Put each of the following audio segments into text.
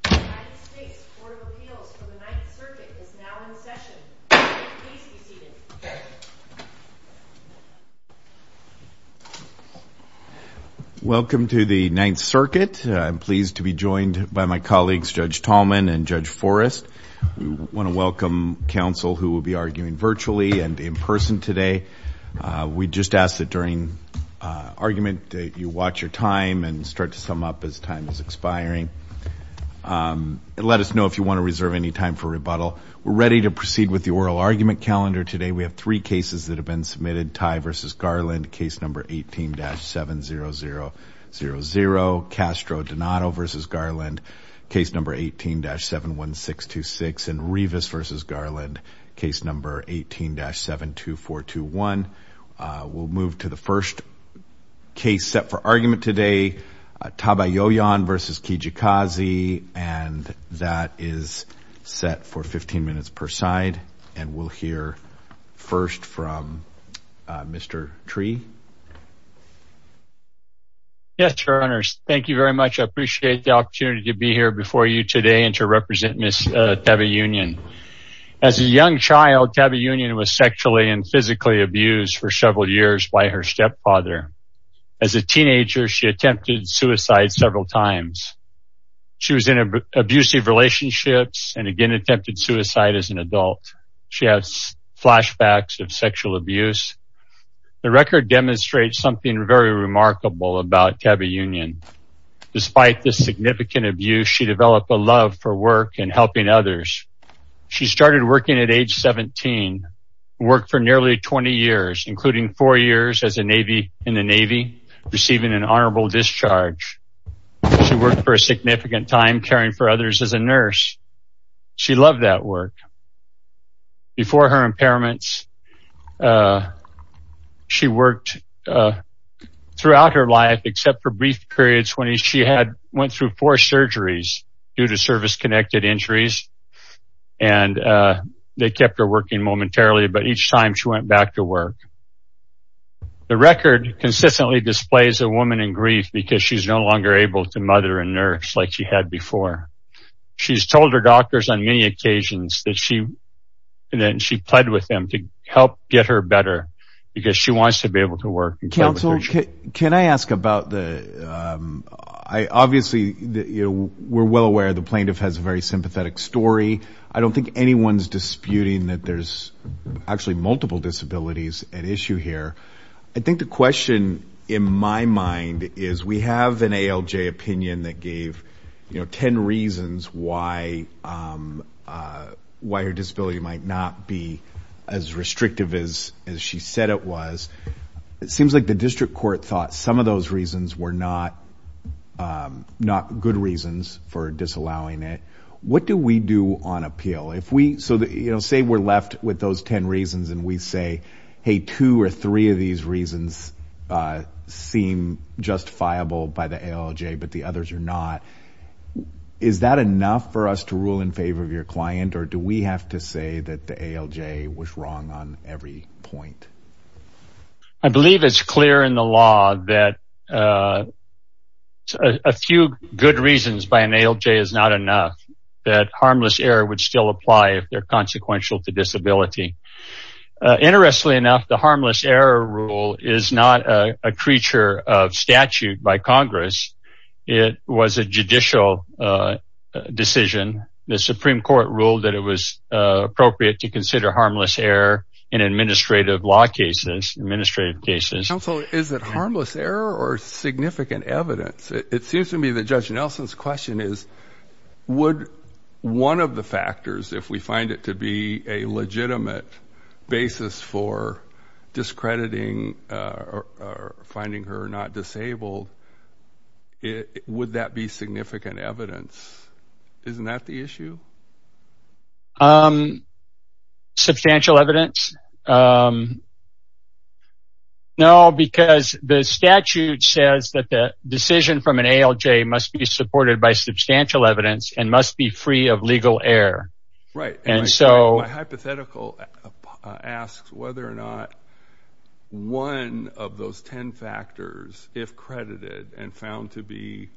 United States Court of Appeals for the Ninth Circuit is now in session. Please be seated. Welcome to the Ninth Circuit. I'm pleased to be joined by my colleagues Judge Tallman and Judge Forrest. We want to welcome counsel who will be arguing virtually and in person today. We just ask that during argument you watch your time and start to sum up as time is expiring. Let us know if you want to reserve any time for rebuttal. We're ready to proceed with the oral argument calendar today. We have three cases that have been submitted. Midtie v. Garland, case number 18-70000. Castro Donato v. Garland, case number 18-71626. And Rivas v. Garland, case number 18-72421. We'll move to the first case set for argument today. Tabayoyon v. Kijakazi. And that is set for 15 minutes per side. And we'll hear first from Mr. Tree. Yes, Your Honors. Thank you very much. I appreciate the opportunity to be here before you today and to represent Ms. Tabayoyon. As a young child, Tabayoyon was sexually and physically abused for several years by her stepfather. As a teenager, she attempted suicide several times. She was in abusive relationships and again attempted suicide as an adult. She has flashbacks of sexual abuse. The record demonstrates something very remarkable about Tabayoyon. Despite this significant abuse, she developed a love for work and helping others. She started working at age 17, worked for nearly 20 years, including four years as a Navy in the Navy, receiving an honorable discharge. She worked for a significant time caring for others as a nurse. She loved that work. Before her impairments, she worked throughout her life except for brief periods when she had went through four surgeries due to service-connected injuries. And they kept her working momentarily, but each time she went back to work. The record consistently displays a woman in grief because she's no longer able to mother and nurse like she had before. She's told her doctors on many occasions that she pled with them to help get her better because she wants to be able to work. Counsel, can I ask about the, obviously we're well aware the plaintiff has a very sympathetic story. I don't think anyone's disputing that there's actually multiple disabilities at issue here. I think the question in my mind is we have an ALJ opinion that gave 10 reasons why her disability might not be as restrictive as she said it was. It seems like the district court thought some of those reasons were not good reasons for disallowing it. What do we do on appeal? Say we're left with those 10 reasons and we say, hey, two or three of these reasons seem justifiable by the ALJ but the others are not. Is that enough for us to rule in favor of your client or do we have to say that the ALJ was wrong on every point? I believe it's clear in the law that a few good reasons by an ALJ is not enough that harmless error would still apply if they're consequential to disability. Interestingly enough, the harmless error rule is not a creature of statute by Congress. It was a judicial decision. The Supreme Court ruled that it was appropriate to consider harmless error in administrative law cases, administrative cases. Counsel, is it harmless error or significant evidence? It seems to me that Judge Nelson's question is would one of the factors, if we find it to be a legitimate basis for discrediting or finding her not disabled, would that be significant evidence? Isn't that the issue? Substantial evidence? No, because the statute says that the decision from an ALJ must be supported by substantial evidence and must be free of legal error. My hypothetical asks whether or not one of those ten factors, if credited and found to be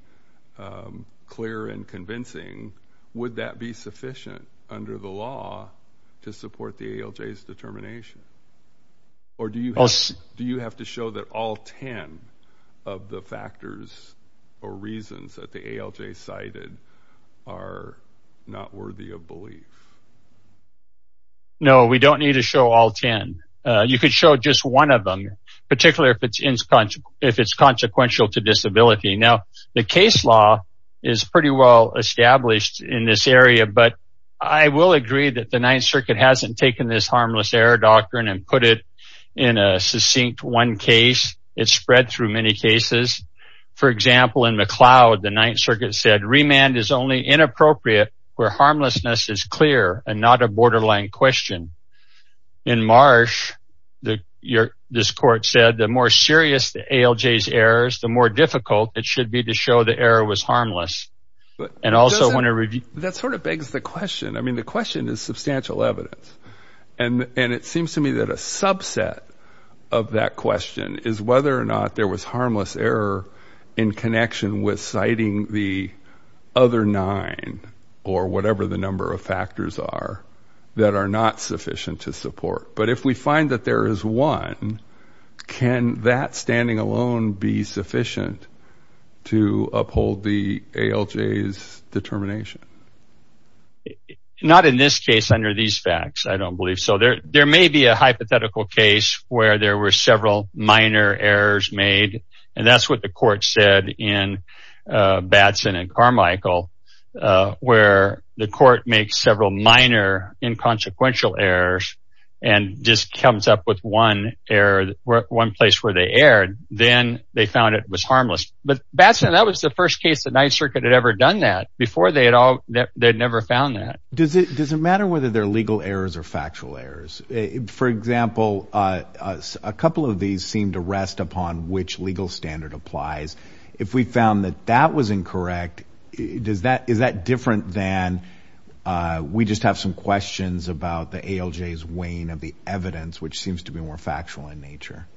clear and convincing, would that be sufficient under the law to support the ALJ's determination? Or do you have to show that all ten of the factors or reasons that the ALJ cited are not worthy of belief? No, we don't need to show all ten. You could show just one of them, particularly if it's consequential to disability. Now, the case law is pretty well established in this area, but I will agree that the Ninth Circuit hasn't taken this harmless error doctrine and put it in a succinct one case. It's spread through many cases. For example, in McLeod, the Ninth Circuit said remand is only inappropriate where harmlessness is clear and not a borderline question. In Marsh, this court said the more serious the ALJ's errors, the more difficult it should be to show the error was harmless. That sort of begs the question. I mean, the question is substantial evidence. And it seems to me that a subset of that question is whether or not there was harmless error in connection with citing the other nine or whatever the number of factors are that are not sufficient to support. But if we find that there is one, can that standing alone be sufficient to uphold the ALJ's determination? Not in this case, under these facts, I don't believe so. There may be a hypothetical case where there were several minor errors made. And that's what the court said in Batson and Carmichael, where the court makes several minor inconsequential errors and just comes up with one error, one place where they erred. Then they found it was harmless. But Batson, that was the first case the Ninth Circuit had ever done that. Before that, they had never found that. Does it matter whether they're legal errors or factual errors? For example, a couple of these seem to rest upon which legal standard applies. If we found that that was incorrect, is that different than we just have some questions about the ALJ's weighing of the evidence, which seems to be more factual in nature?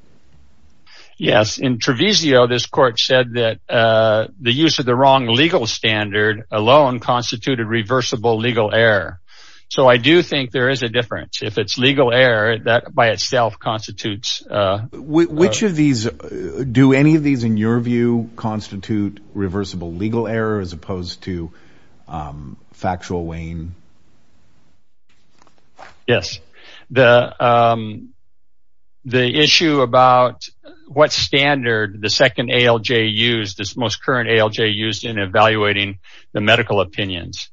Yes. In Treviso, this court said that the use of the wrong legal standard alone constituted reversible legal error. So I do think there is a difference. If it's legal error, that by itself constitutes… Which of these, do any of these in your view constitute reversible legal error as opposed to factual weighing? Yes. The issue about what standard the second ALJ used, the most current ALJ used in evaluating the medical opinions.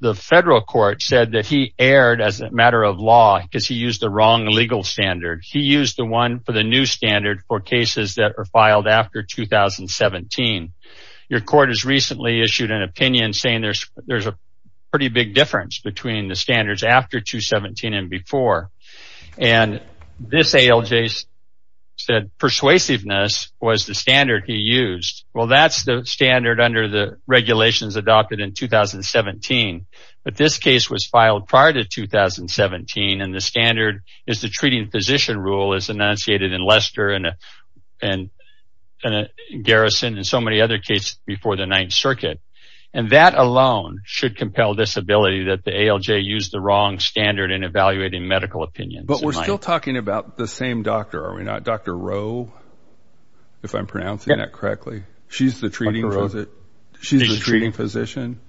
The federal court said that he erred as a matter of law because he used the wrong legal standard. He used the one for the new standard for cases that were filed after 2017. Your court has recently issued an opinion saying there's a pretty big difference between the standards after 2017 and before. And this ALJ said persuasiveness was the standard he used. Well, that's the standard under the regulations adopted in 2017. But this case was filed prior to 2017, and the standard is the treating physician rule as enunciated in Lester and Garrison and so many other cases before the Ninth Circuit. And that alone should compel this ability that the ALJ used the wrong standard in evaluating medical opinions. But we're still talking about the same doctor, are we not? Dr. Rowe, if I'm pronouncing that correctly. She's the treating physician?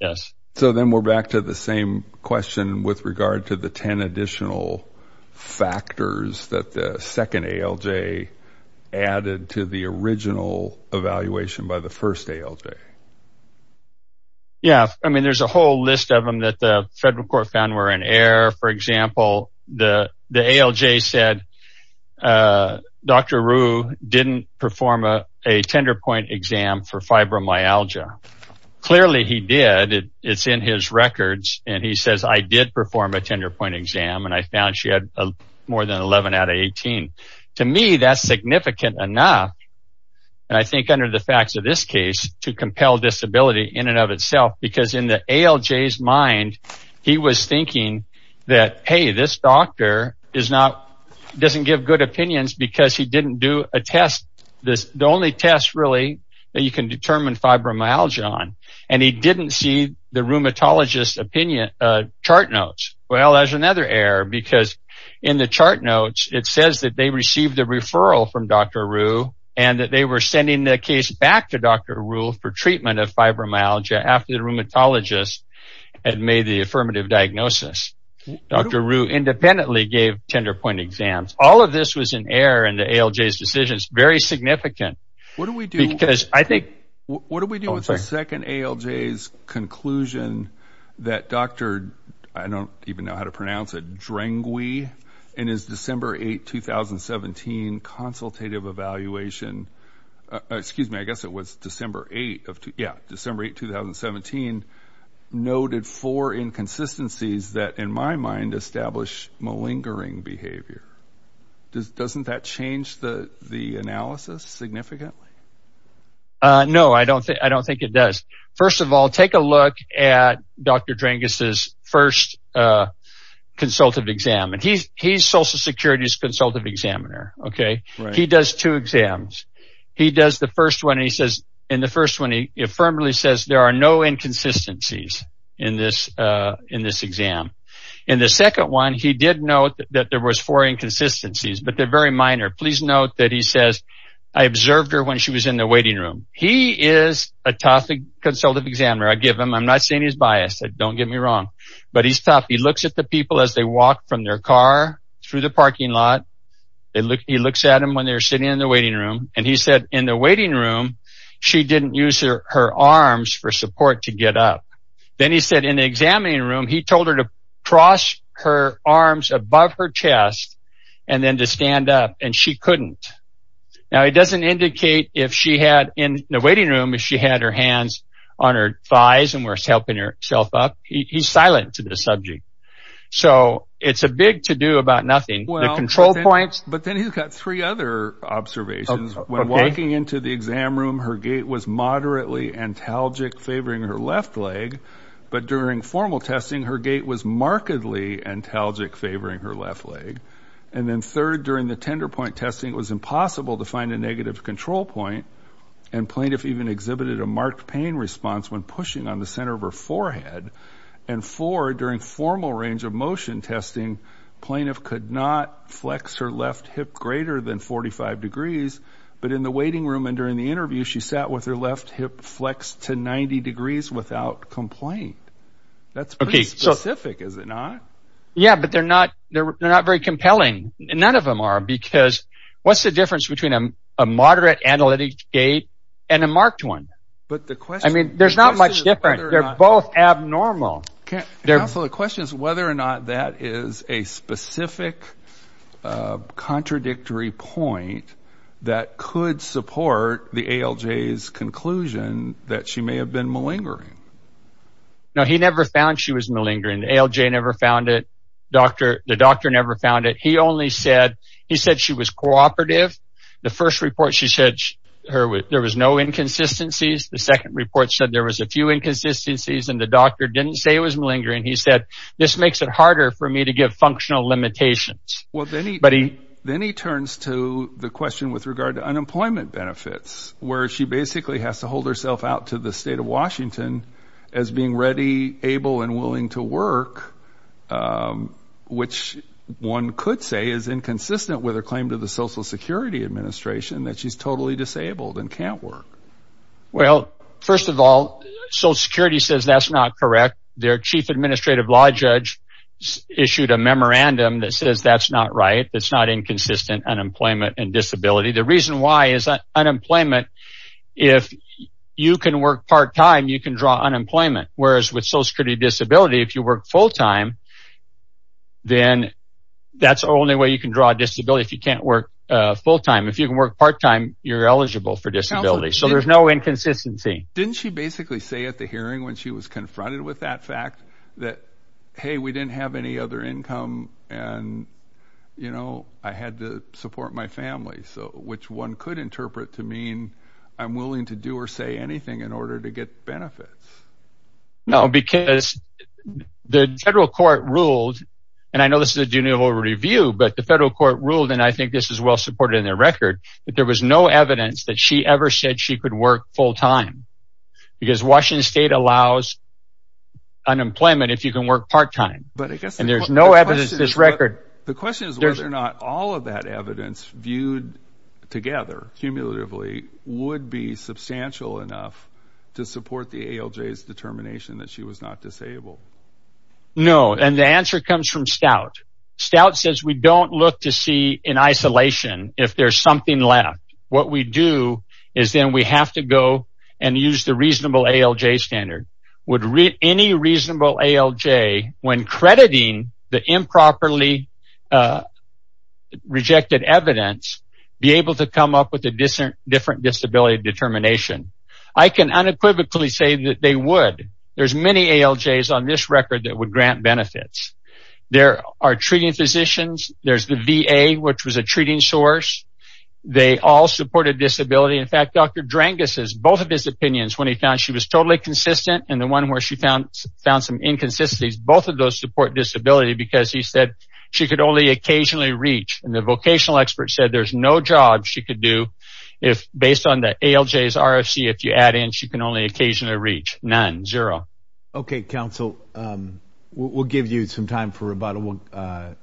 Yes. So then we're back to the same question with regard to the 10 additional factors that the second ALJ added to the original evaluation by the first ALJ. Yeah, I mean, there's a whole list of them that the federal court found were in error. For example, the ALJ said Dr. Rowe didn't perform a tender point exam for fibromyalgia. Clearly, he did. It's in his records. And he says, I did perform a tender point exam, and I found she had more than 11 out of 18. To me, that's significant enough. And I think under the facts of this case to compel disability in and of itself, because in the ALJ's mind, he was thinking that, hey, this doctor doesn't give good opinions because he didn't do a test. The only test really that you can determine fibromyalgia on. And he didn't see the rheumatologist opinion chart notes. Well, there's another error because in the chart notes, it says that they received a referral from Dr. Rowe and that they were sending the case back to Dr. Rowe for treatment of fibromyalgia after the rheumatologist had made the affirmative diagnosis. Dr. Rowe independently gave tender point exams. All of this was in error in the ALJ's decisions. Very significant. What do we do with the second ALJ's conclusion that Dr. I don't even know how to pronounce it, Drangui, in his December 8, 2017, consultative evaluation. Excuse me. I guess it was December 8. Yeah, December 8, 2017, noted four inconsistencies that, in my mind, establish malingering behavior. Doesn't that change the analysis significantly? No, I don't think it does. First of all, take a look at Dr. Dranguis' first consultative exam. He's Social Security's consultative examiner. He does two exams. He does the first one and he says in the first one, he affirmatively says there are no inconsistencies in this exam. In the second one, he did note that there was four inconsistencies, but they're very minor. Please note that he says, I observed her when she was in the waiting room. He is a tough consultative examiner. I give him. I'm not saying he's biased. Don't get me wrong, but he's tough. He looks at the people as they walk from their car through the parking lot. He looks at them when they're sitting in the waiting room, and he said in the waiting room, she didn't use her arms for support to get up. Then he said in the examining room, he told her to cross her arms above her chest and then to stand up. And she couldn't. Now, it doesn't indicate if she had in the waiting room, if she had her hands on her thighs and were helping herself up. He's silent to the subject. So it's a big to do about nothing. The control points. But then he's got three other observations. When walking into the exam room, her gait was moderately antalgic, favoring her left leg. But during formal testing, her gait was markedly antalgic, favoring her left leg. And then third, during the tender point testing, it was impossible to find a negative control point. And plaintiff even exhibited a marked pain response when pushing on the center of her forehead. And four, during formal range of motion testing, plaintiff could not flex her left hip greater than 45 degrees. But in the waiting room and during the interview, she sat with her left hip flexed to 90 degrees without complaint. That's pretty specific, is it not? Yeah, but they're not very compelling. None of them are because what's the difference between a moderate analytic gait and a marked one? I mean, there's not much difference. They're both abnormal. Counsel, the question is whether or not that is a specific contradictory point that could support the ALJ's conclusion that she may have been malingering. No, he never found she was malingering. The ALJ never found it. The doctor never found it. He only said she was cooperative. The first report she said there was no inconsistencies. The second report said there was a few inconsistencies. And the doctor didn't say it was malingering. He said, this makes it harder for me to give functional limitations. Then he turns to the question with regard to unemployment benefits where she basically has to hold herself out to the state of Washington as being ready, able, and willing to work, which one could say is inconsistent with her claim to the Social Security Administration that she's totally disabled and can't work. Well, first of all, Social Security says that's not correct. Their chief administrative law judge issued a memorandum that says that's not right. It's not inconsistent, unemployment and disability. The reason why is that unemployment, if you can work part-time, you can draw unemployment. Whereas with Social Security disability, if you work full-time, then that's the only way you can draw disability. If you can't work full-time, if you can work part-time, you're eligible for disability. So there's no inconsistency. Didn't she basically say at the hearing when she was confronted with that fact that, hey, we didn't have any other income and I had to support my family, which one could interpret to mean I'm willing to do or say anything in order to get benefits. No, because the federal court ruled, and I know this is a Geneva review, but the federal court ruled, and I think this is well supported in their record, that there was no evidence that she ever said she could work full-time. Because Washington state allows unemployment if you can work part-time. And there's no evidence in this record. The question is whether or not all of that evidence viewed together, cumulatively, would be substantial enough to support the ALJ's determination that she was not disabled. No, and the answer comes from Stout. Stout says we don't look to see in isolation if there's something left. What we do is then we have to go and use the reasonable ALJ standard. Would any reasonable ALJ, when crediting the improperly rejected evidence, be able to come up with a different disability determination? I can unequivocally say that they would. There's many ALJs on this record that would grant benefits. There are treating physicians. There's the VA, which was a treating source. They all supported disability. In fact, Dr. Drangis' both of his opinions, when he found she was totally consistent and the one where she found some inconsistencies, both of those support disability because he said she could only occasionally reach. And the vocational expert said there's no job she could do if, based on the ALJ's RFC, if you add in she can only occasionally reach. None, zero. Okay, counsel, we'll give you some time for rebuttal, and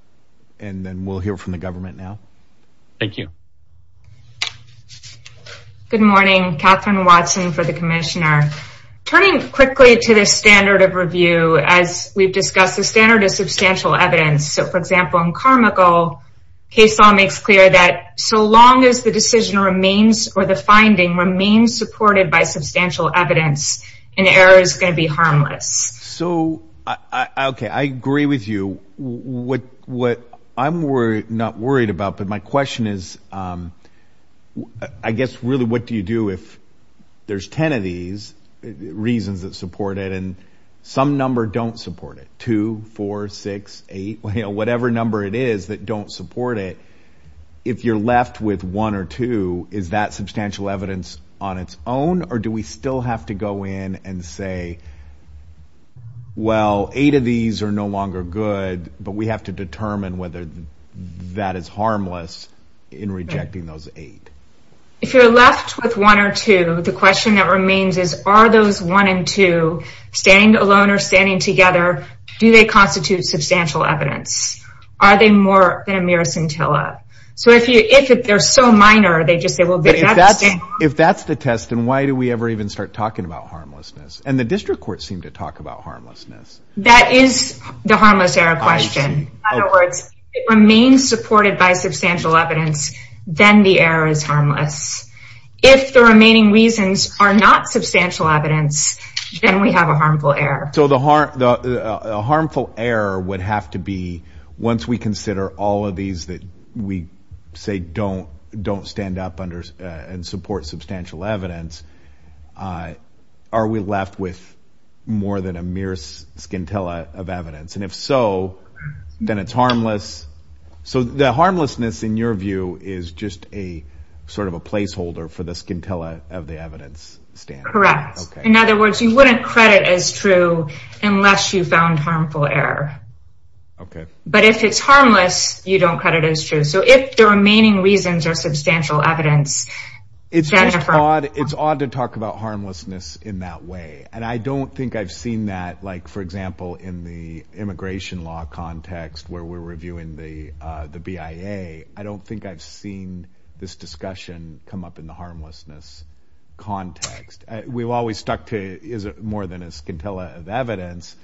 then we'll hear from the government now. Thank you. Good morning. Catherine Watson for the commissioner. Turning quickly to the standard of review, as we've discussed, the standard is substantial evidence. So, for example, in Carmichael, case law makes clear that so long as the decision remains or the finding remains unsupported by substantial evidence, an error is going to be harmless. So, okay, I agree with you. What I'm not worried about, but my question is, I guess, really, what do you do if there's ten of these reasons that support it and some number don't support it, two, four, six, eight, whatever number it is that don't support it, if you're left with one or two, is that substantial evidence on its own, or do we still have to go in and say, well, eight of these are no longer good, but we have to determine whether that is harmless in rejecting those eight? If you're left with one or two, the question that remains is, are those one and two, standing alone or standing together, do they constitute substantial evidence? Are they more than a mere scintilla? So if they're so minor, they just say, well, that's the test. If that's the test, then why do we ever even start talking about harmlessness? And the district courts seem to talk about harmlessness. That is the harmless error question. In other words, it remains supported by substantial evidence, then the error is harmless. If the remaining reasons are not substantial evidence, then we have a harmful error. So a harmful error would have to be, once we consider all of these that we say don't stand up and support substantial evidence, are we left with more than a mere scintilla of evidence? And if so, then it's harmless. So the harmlessness, in your view, is just sort of a placeholder for the scintilla of the evidence standard. Correct. In other words, you wouldn't credit as true unless you found harmful error. Okay. But if it's harmless, you don't credit as true. So if the remaining reasons are substantial evidence, Jennifer— It's just odd. It's odd to talk about harmlessness in that way. And I don't think I've seen that, like, for example, in the immigration law context where we're reviewing the BIA. I don't think I've seen this discussion come up in the harmlessness context. We've always stuck to is it more than a scintilla of evidence,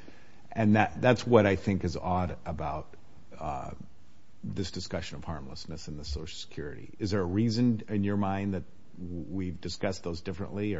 and that's what I think is odd about this discussion of harmlessness in the Social Security. Is there a reason in your mind that we've discussed those differently?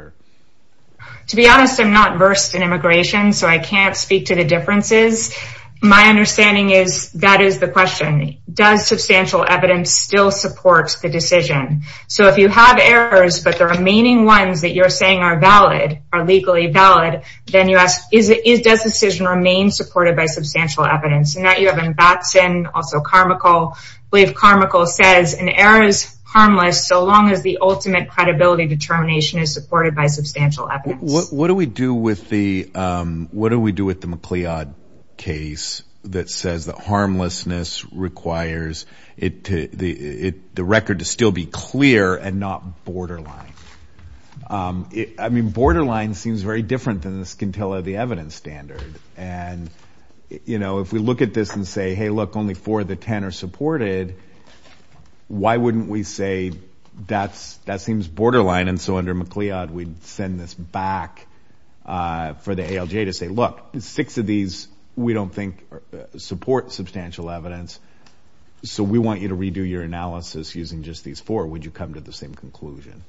To be honest, I'm not versed in immigration, so I can't speak to the differences. My understanding is that is the question. Does substantial evidence still support the decision? So if you have errors but the remaining ones that you're saying are valid, are legally valid, then you ask, does the decision remain supported by substantial evidence? And that you have in Batson, also Carmichael. I believe Carmichael says an error is harmless so long as the ultimate credibility determination is supported by substantial evidence. What do we do with the MacLeod case that says that harmlessness requires the record to still be clear and not borderline? I mean, borderline seems very different than the scintilla of the evidence standard. And, you know, if we look at this and say, hey, look, only four of the ten are supported, why wouldn't we say that seems borderline, and so under MacLeod we'd send this back for the ALJ to say, look, six of these we don't think support substantial evidence, so we want you to redo your analysis using just these four. Would you come to the same conclusion?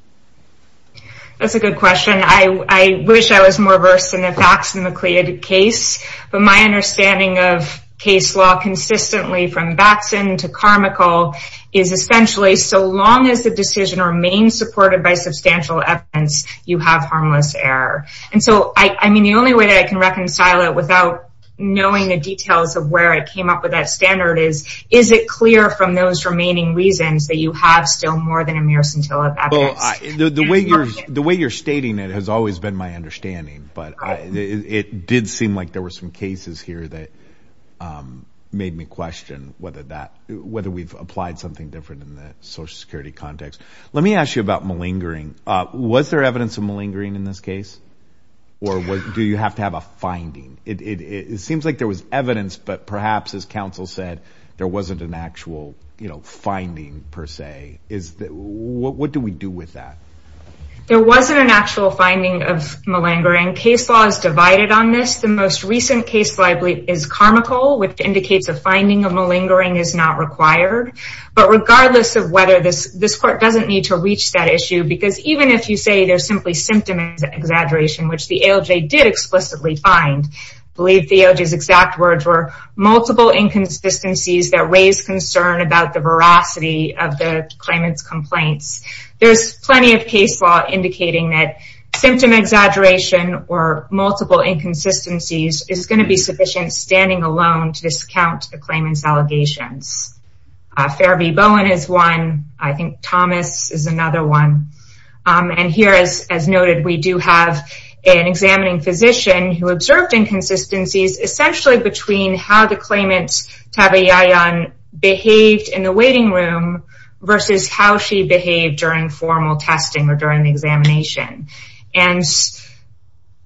That's a good question. I wish I was more versed in the facts in the MacLeod case, but my understanding of case law consistently from Batson to Carmichael is essentially so long as the decision remains supported by substantial evidence, you have harmless error. And so, I mean, the only way that I can reconcile it without knowing the details of where I Is it clear from those remaining reasons that you have still more than a mere scintilla of evidence? The way you're stating it has always been my understanding, but it did seem like there were some cases here that made me question whether we've applied something different in the Social Security context. Let me ask you about malingering. Was there evidence of malingering in this case, or do you have to have a finding? It seems like there was evidence, but perhaps, as counsel said, there wasn't an actual finding, per se. What do we do with that? There wasn't an actual finding of malingering. Case law is divided on this. The most recent case law I believe is Carmichael, which indicates a finding of malingering is not required. But regardless of whether this court doesn't need to reach that issue, because even if you say there's simply symptom exaggeration, which the ALJ did explicitly find, I believe the ALJ's exact words were, multiple inconsistencies that raise concern about the veracity of the claimant's complaints. There's plenty of case law indicating that symptom exaggeration or multiple inconsistencies is going to be sufficient standing alone to discount the claimant's allegations. Fair v. Bowen is one. I think Thomas is another one. And here, as noted, we do have an examining physician who observed inconsistencies, essentially between how the claimant's tabayayan behaved in the waiting room versus how she behaved during formal testing or during the examination. And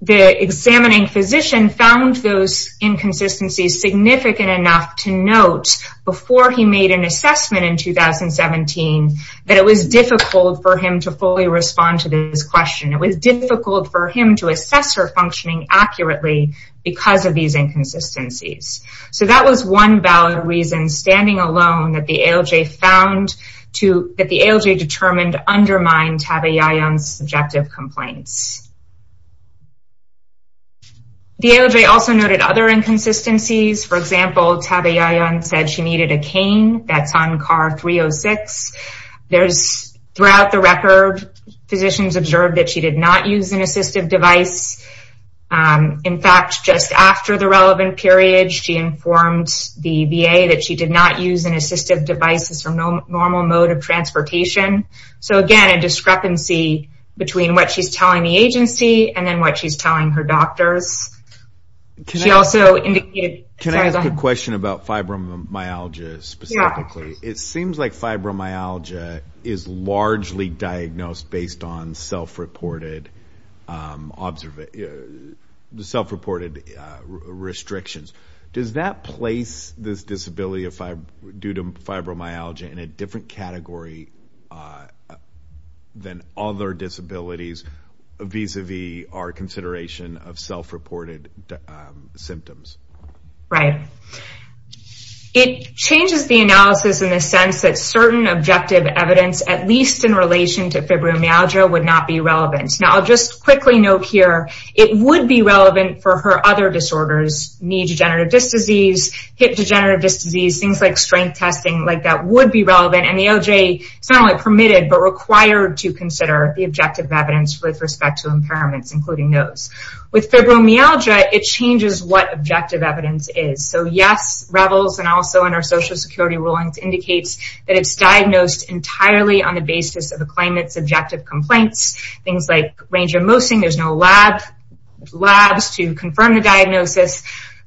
the examining physician found those inconsistencies significant enough to note before he made an assessment in 2017 that it was difficult for him to fully respond to this question. It was difficult for him to assess her functioning accurately because of these inconsistencies. So that was one valid reason, standing alone, that the ALJ determined undermined tabayayan's subjective complaints. The ALJ also noted other inconsistencies. For example, tabayayan said she needed a cane. That's on CAR 306. Throughout the record, physicians observed that she did not use an assistive device. In fact, just after the relevant period, she informed the VA that she did not use an assistive device as her normal mode of transportation. So again, a discrepancy between what she's telling the agency and then what she's telling her doctors. She also indicated... Can I ask a question about fibromyalgia specifically? It seems like fibromyalgia is largely diagnosed based on self-reported restrictions. Does that place this disability due to fibromyalgia in a different category than other disabilities vis-a-vis our consideration of self-reported symptoms? Right. It changes the analysis in the sense that certain objective evidence, at least in relation to fibromyalgia, would not be relevant. I'll just quickly note here, it would be relevant for her other disorders. Knee degenerative disc disease, hip degenerative disc disease, things like strength testing, that would be relevant. The ALJ is not only permitted but required to consider the objective evidence with respect to impairments, including those. With fibromyalgia, it changes what objective evidence is. Yes, REVILS, and also in our Social Security rulings, indicates that it's diagnosed entirely on the basis of the claimant's objective complaints. Things like range of mosing, there's no labs to confirm the diagnosis.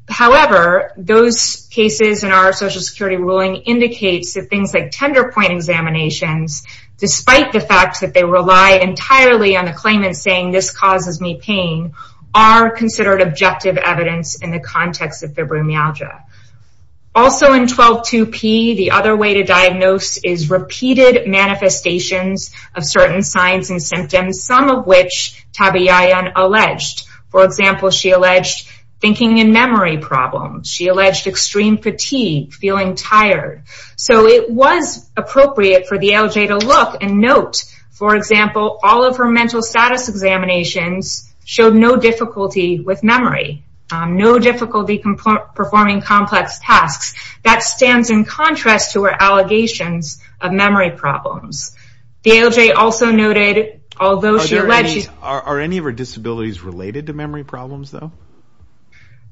However, those cases in our Social Security ruling indicates that things like tender point examinations, despite the fact that they rely entirely on the claimant saying this causes me pain, are considered objective evidence in the context of fibromyalgia. Also in 12.2p, the other way to diagnose is repeated manifestations of certain signs and symptoms, some of which Tabe-Yayan alleged. For example, she alleged thinking and memory problems. She alleged extreme fatigue, feeling tired. It was appropriate for the ALJ to look and note. For example, all of her mental status examinations showed no difficulty with memory. No difficulty performing complex tasks. That stands in contrast to her allegations of memory problems. The ALJ also noted, although she alleged... Are any of her disabilities related to memory problems, though?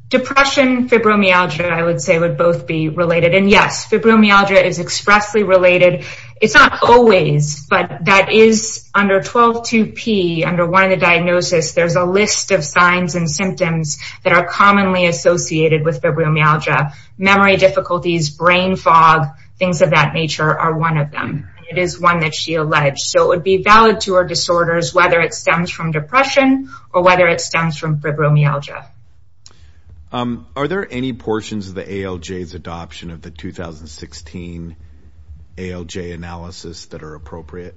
Depression, fibromyalgia, I would say, would both be related. And yes, fibromyalgia is expressly related. It's not always, but that is under 12.2p, under one of the diagnoses, there's a list of signs and symptoms that are commonly associated with fibromyalgia. Memory difficulties, brain fog, things of that nature are one of them. It is one that she alleged. So it would be valid to her disorders, whether it stems from depression or whether it stems from fibromyalgia. Are there any portions of the ALJ's adoption of the 2016 ALJ analysis that are appropriate?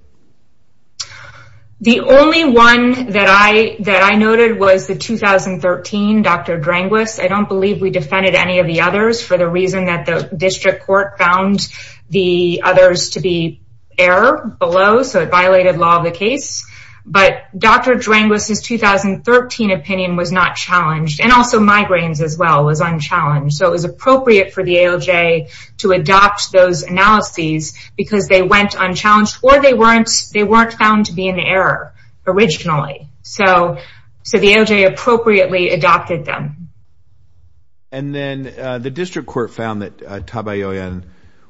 The only one that I noted was the 2013, Dr. Dranguis. I don't believe we defended any of the others for the reason that the district court found the others to be error below, so it violated law of the case. But Dr. Dranguis's 2013 opinion was not challenged. And also migraines as well was unchallenged. So it was appropriate for the ALJ to adopt those analyses because they went unchallenged or they weren't found to be in error originally. So the ALJ appropriately adopted them. And then the district court found that Tabayoyan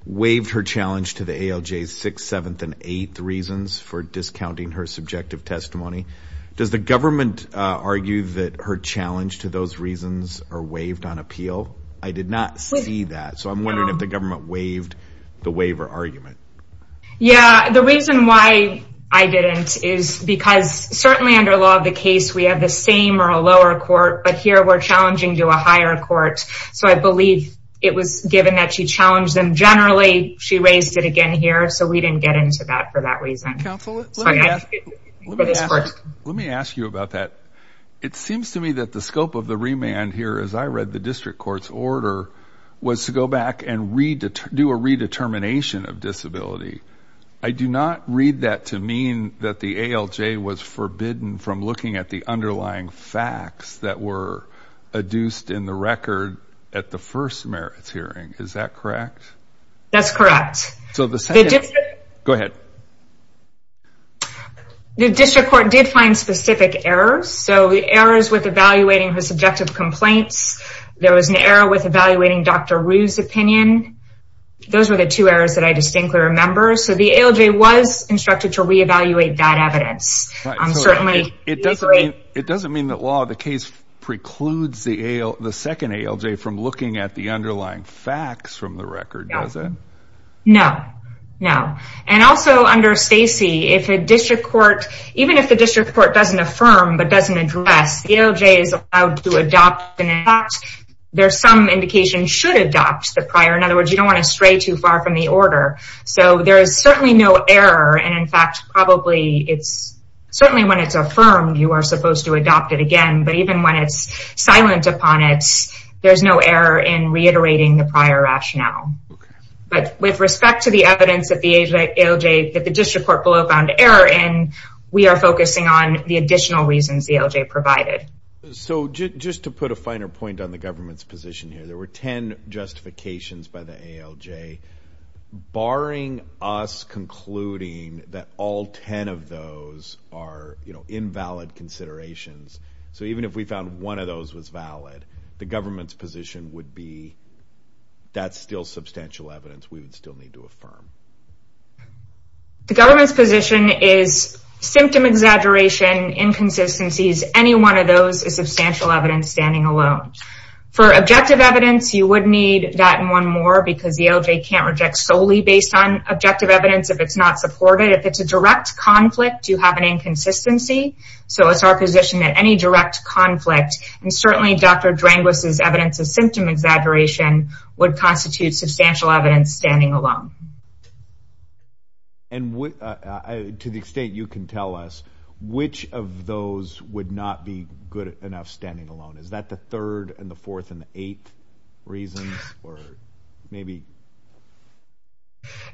waived her challenge to the ALJ's 6th, 7th, and 8th reasons for discounting her subjective testimony. Does the government argue that her challenge to those reasons are waived on appeal? I did not see that. So I'm wondering if the government waived the waiver argument. Yeah, the reason why I didn't is because certainly under law of the case, we have the same or a lower court, but here we're challenging to a higher court. So I believe it was given that she challenged them generally, she raised it again here, so we didn't get into that for that reason. Counsel, let me ask you about that. It seems to me that the scope of the remand here, as I read the district court's order, was to go back and do a redetermination of disability. I do not read that to mean that the ALJ was forbidden from looking at the underlying facts that were adduced in the record at the first merits hearing. Is that correct? That's correct. Go ahead. The district court did find specific errors. So errors with evaluating her subjective complaints. There was an error with evaluating Dr. Rue's opinion. Those were the two errors that I distinctly remember. So the ALJ was instructed to reevaluate that evidence. It doesn't mean that law of the case precludes the second ALJ from looking at the underlying facts from the record, does it? No, no. And also under Stacy, if a district court, even if the district court doesn't affirm but doesn't address, the ALJ is allowed to adopt and adopt. There's some indication should adopt the prior. In other words, you don't want to stray too far from the order. So there is certainly no error. And, in fact, probably it's certainly when it's affirmed, you are supposed to adopt it again. But even when it's silent upon it, there's no error in reiterating the prior rationale. But with respect to the evidence that the ALJ, that the district court below found error in, we are focusing on the additional reasons the ALJ provided. So just to put a finer point on the government's position here, there were 10 justifications by the ALJ. Barring us concluding that all 10 of those are invalid considerations, so even if we found one of those was valid, the government's position would be that's still substantial evidence. We would still need to affirm. The government's position is symptom exaggeration, inconsistencies. Any one of those is substantial evidence standing alone. For objective evidence, you would need that and one more because the ALJ can't reject solely based on objective evidence if it's not supported. If it's a direct conflict, you have an inconsistency. So it's our position that any direct conflict, and certainly Dr. Dranguis' evidence of symptom exaggeration, would constitute substantial evidence standing alone. And to the extent you can tell us, which of those would not be good enough standing alone? Is that the third and the fourth and the eighth reasons?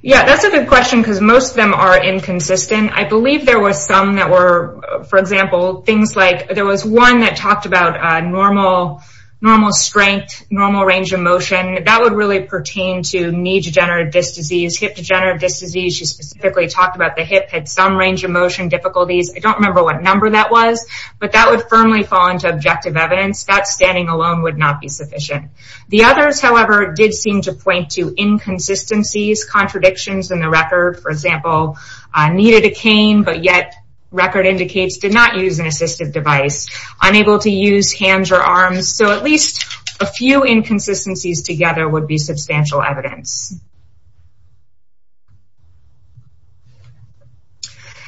Yeah, that's a good question because most of them are inconsistent. I believe there were some that were, for example, things like there was one that talked about normal strength, normal range of motion. That would really pertain to knee degenerative disc disease, hip degenerative disc disease. She specifically talked about the hip had some range of motion difficulties. I don't remember what number that was, but that would firmly fall into objective evidence. That standing alone would not be sufficient. The others, however, did seem to point to inconsistencies, contradictions in the record. For example, needed a cane, but yet record indicates did not use an assistive device. Unable to use hands or arms. So at least a few inconsistencies together would be substantial evidence.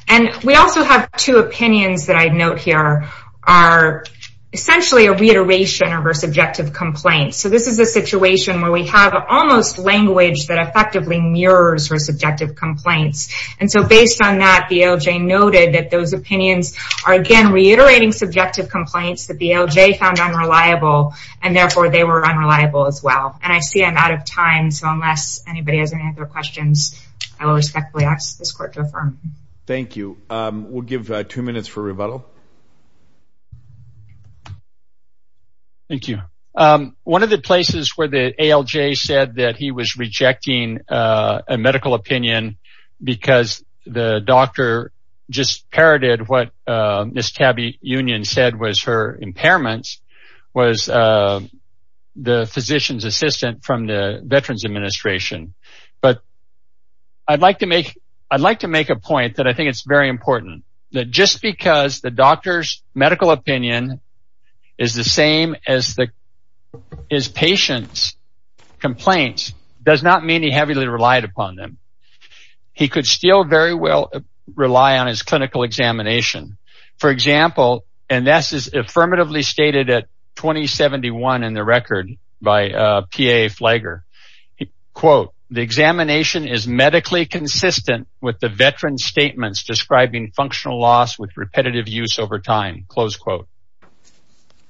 And we also have two opinions that I'd note here are essentially a reiteration of her subjective complaints. So this is a situation where we have almost language that effectively mirrors her subjective complaints. And so based on that, the ALJ noted that those opinions are, again, reiterating subjective complaints that the ALJ found unreliable, and therefore they were unreliable as well. And I see I'm out of time, so unless anybody has any other questions, I will respectfully ask this court to affirm. Thank you. We'll give two minutes for rebuttal. Thank you. One of the places where the ALJ said that he was rejecting a medical opinion because the doctor just parroted what Ms. Tabby Union said was her impairments was the physician's assistant from the Veterans Administration. But I'd like to make a point that I think is very important, that just because the doctor's medical opinion is the same as the patient's does not mean he heavily relied upon them. He could still very well rely on his clinical examination. For example, and this is affirmatively stated at 2071 in the record by P.A. Flagler, quote, the examination is medically consistent with the veteran's statements describing functional loss with repetitive use over time, close quote.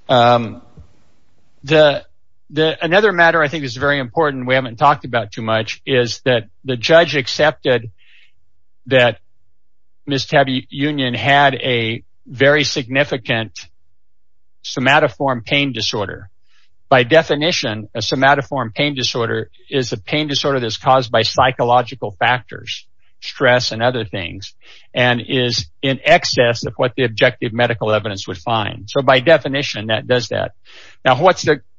Another matter I think is very important we haven't talked about too much is that the judge accepted that Ms. Tabby Union had a very significant somatoform pain disorder. By definition, a somatoform pain disorder is a pain disorder that is caused by psychological factors, stress and other things, and is in excess of what the objective medical evidence would find. So by definition, that does that. Now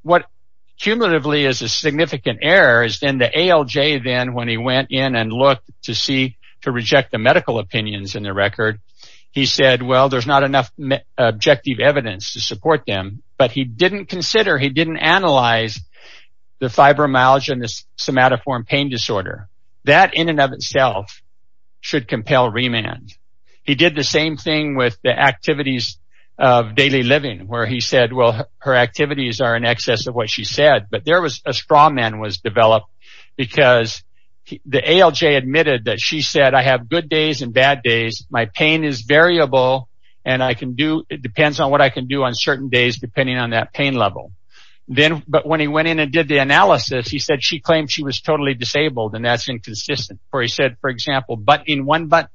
what cumulatively is a significant error is in the ALJ then when he went in and looked to reject the medical opinions in the record, he said, well, there's not enough objective evidence to support them. But he didn't consider, he didn't analyze the fibromyalgia and the somatoform pain disorder. That in and of itself should compel remand. He did the same thing with the activities of daily living where he said, well, her activities are in excess of what she said. But there was a straw man was developed because the ALJ admitted that she said, I have good days and bad days, my pain is variable and I can do, it depends on what I can do on certain days depending on that pain level. But when he went in and did the analysis, he said she claimed she was totally disabled and that's inconsistent. For he said, for example, but in one, but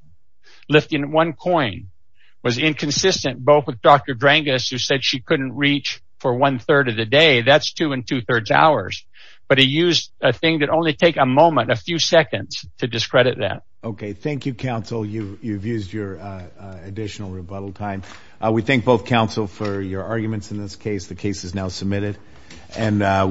lifting one coin was inconsistent, both with Dr. Drangas who said she couldn't reach for one third of the day. That's two and two thirds hours. But he used a thing that only take a moment, a few seconds to discredit that. Okay. Thank you, counsel. You've used your additional rebuttal time. We thank both counsel for your arguments in this case. The case is now submitted.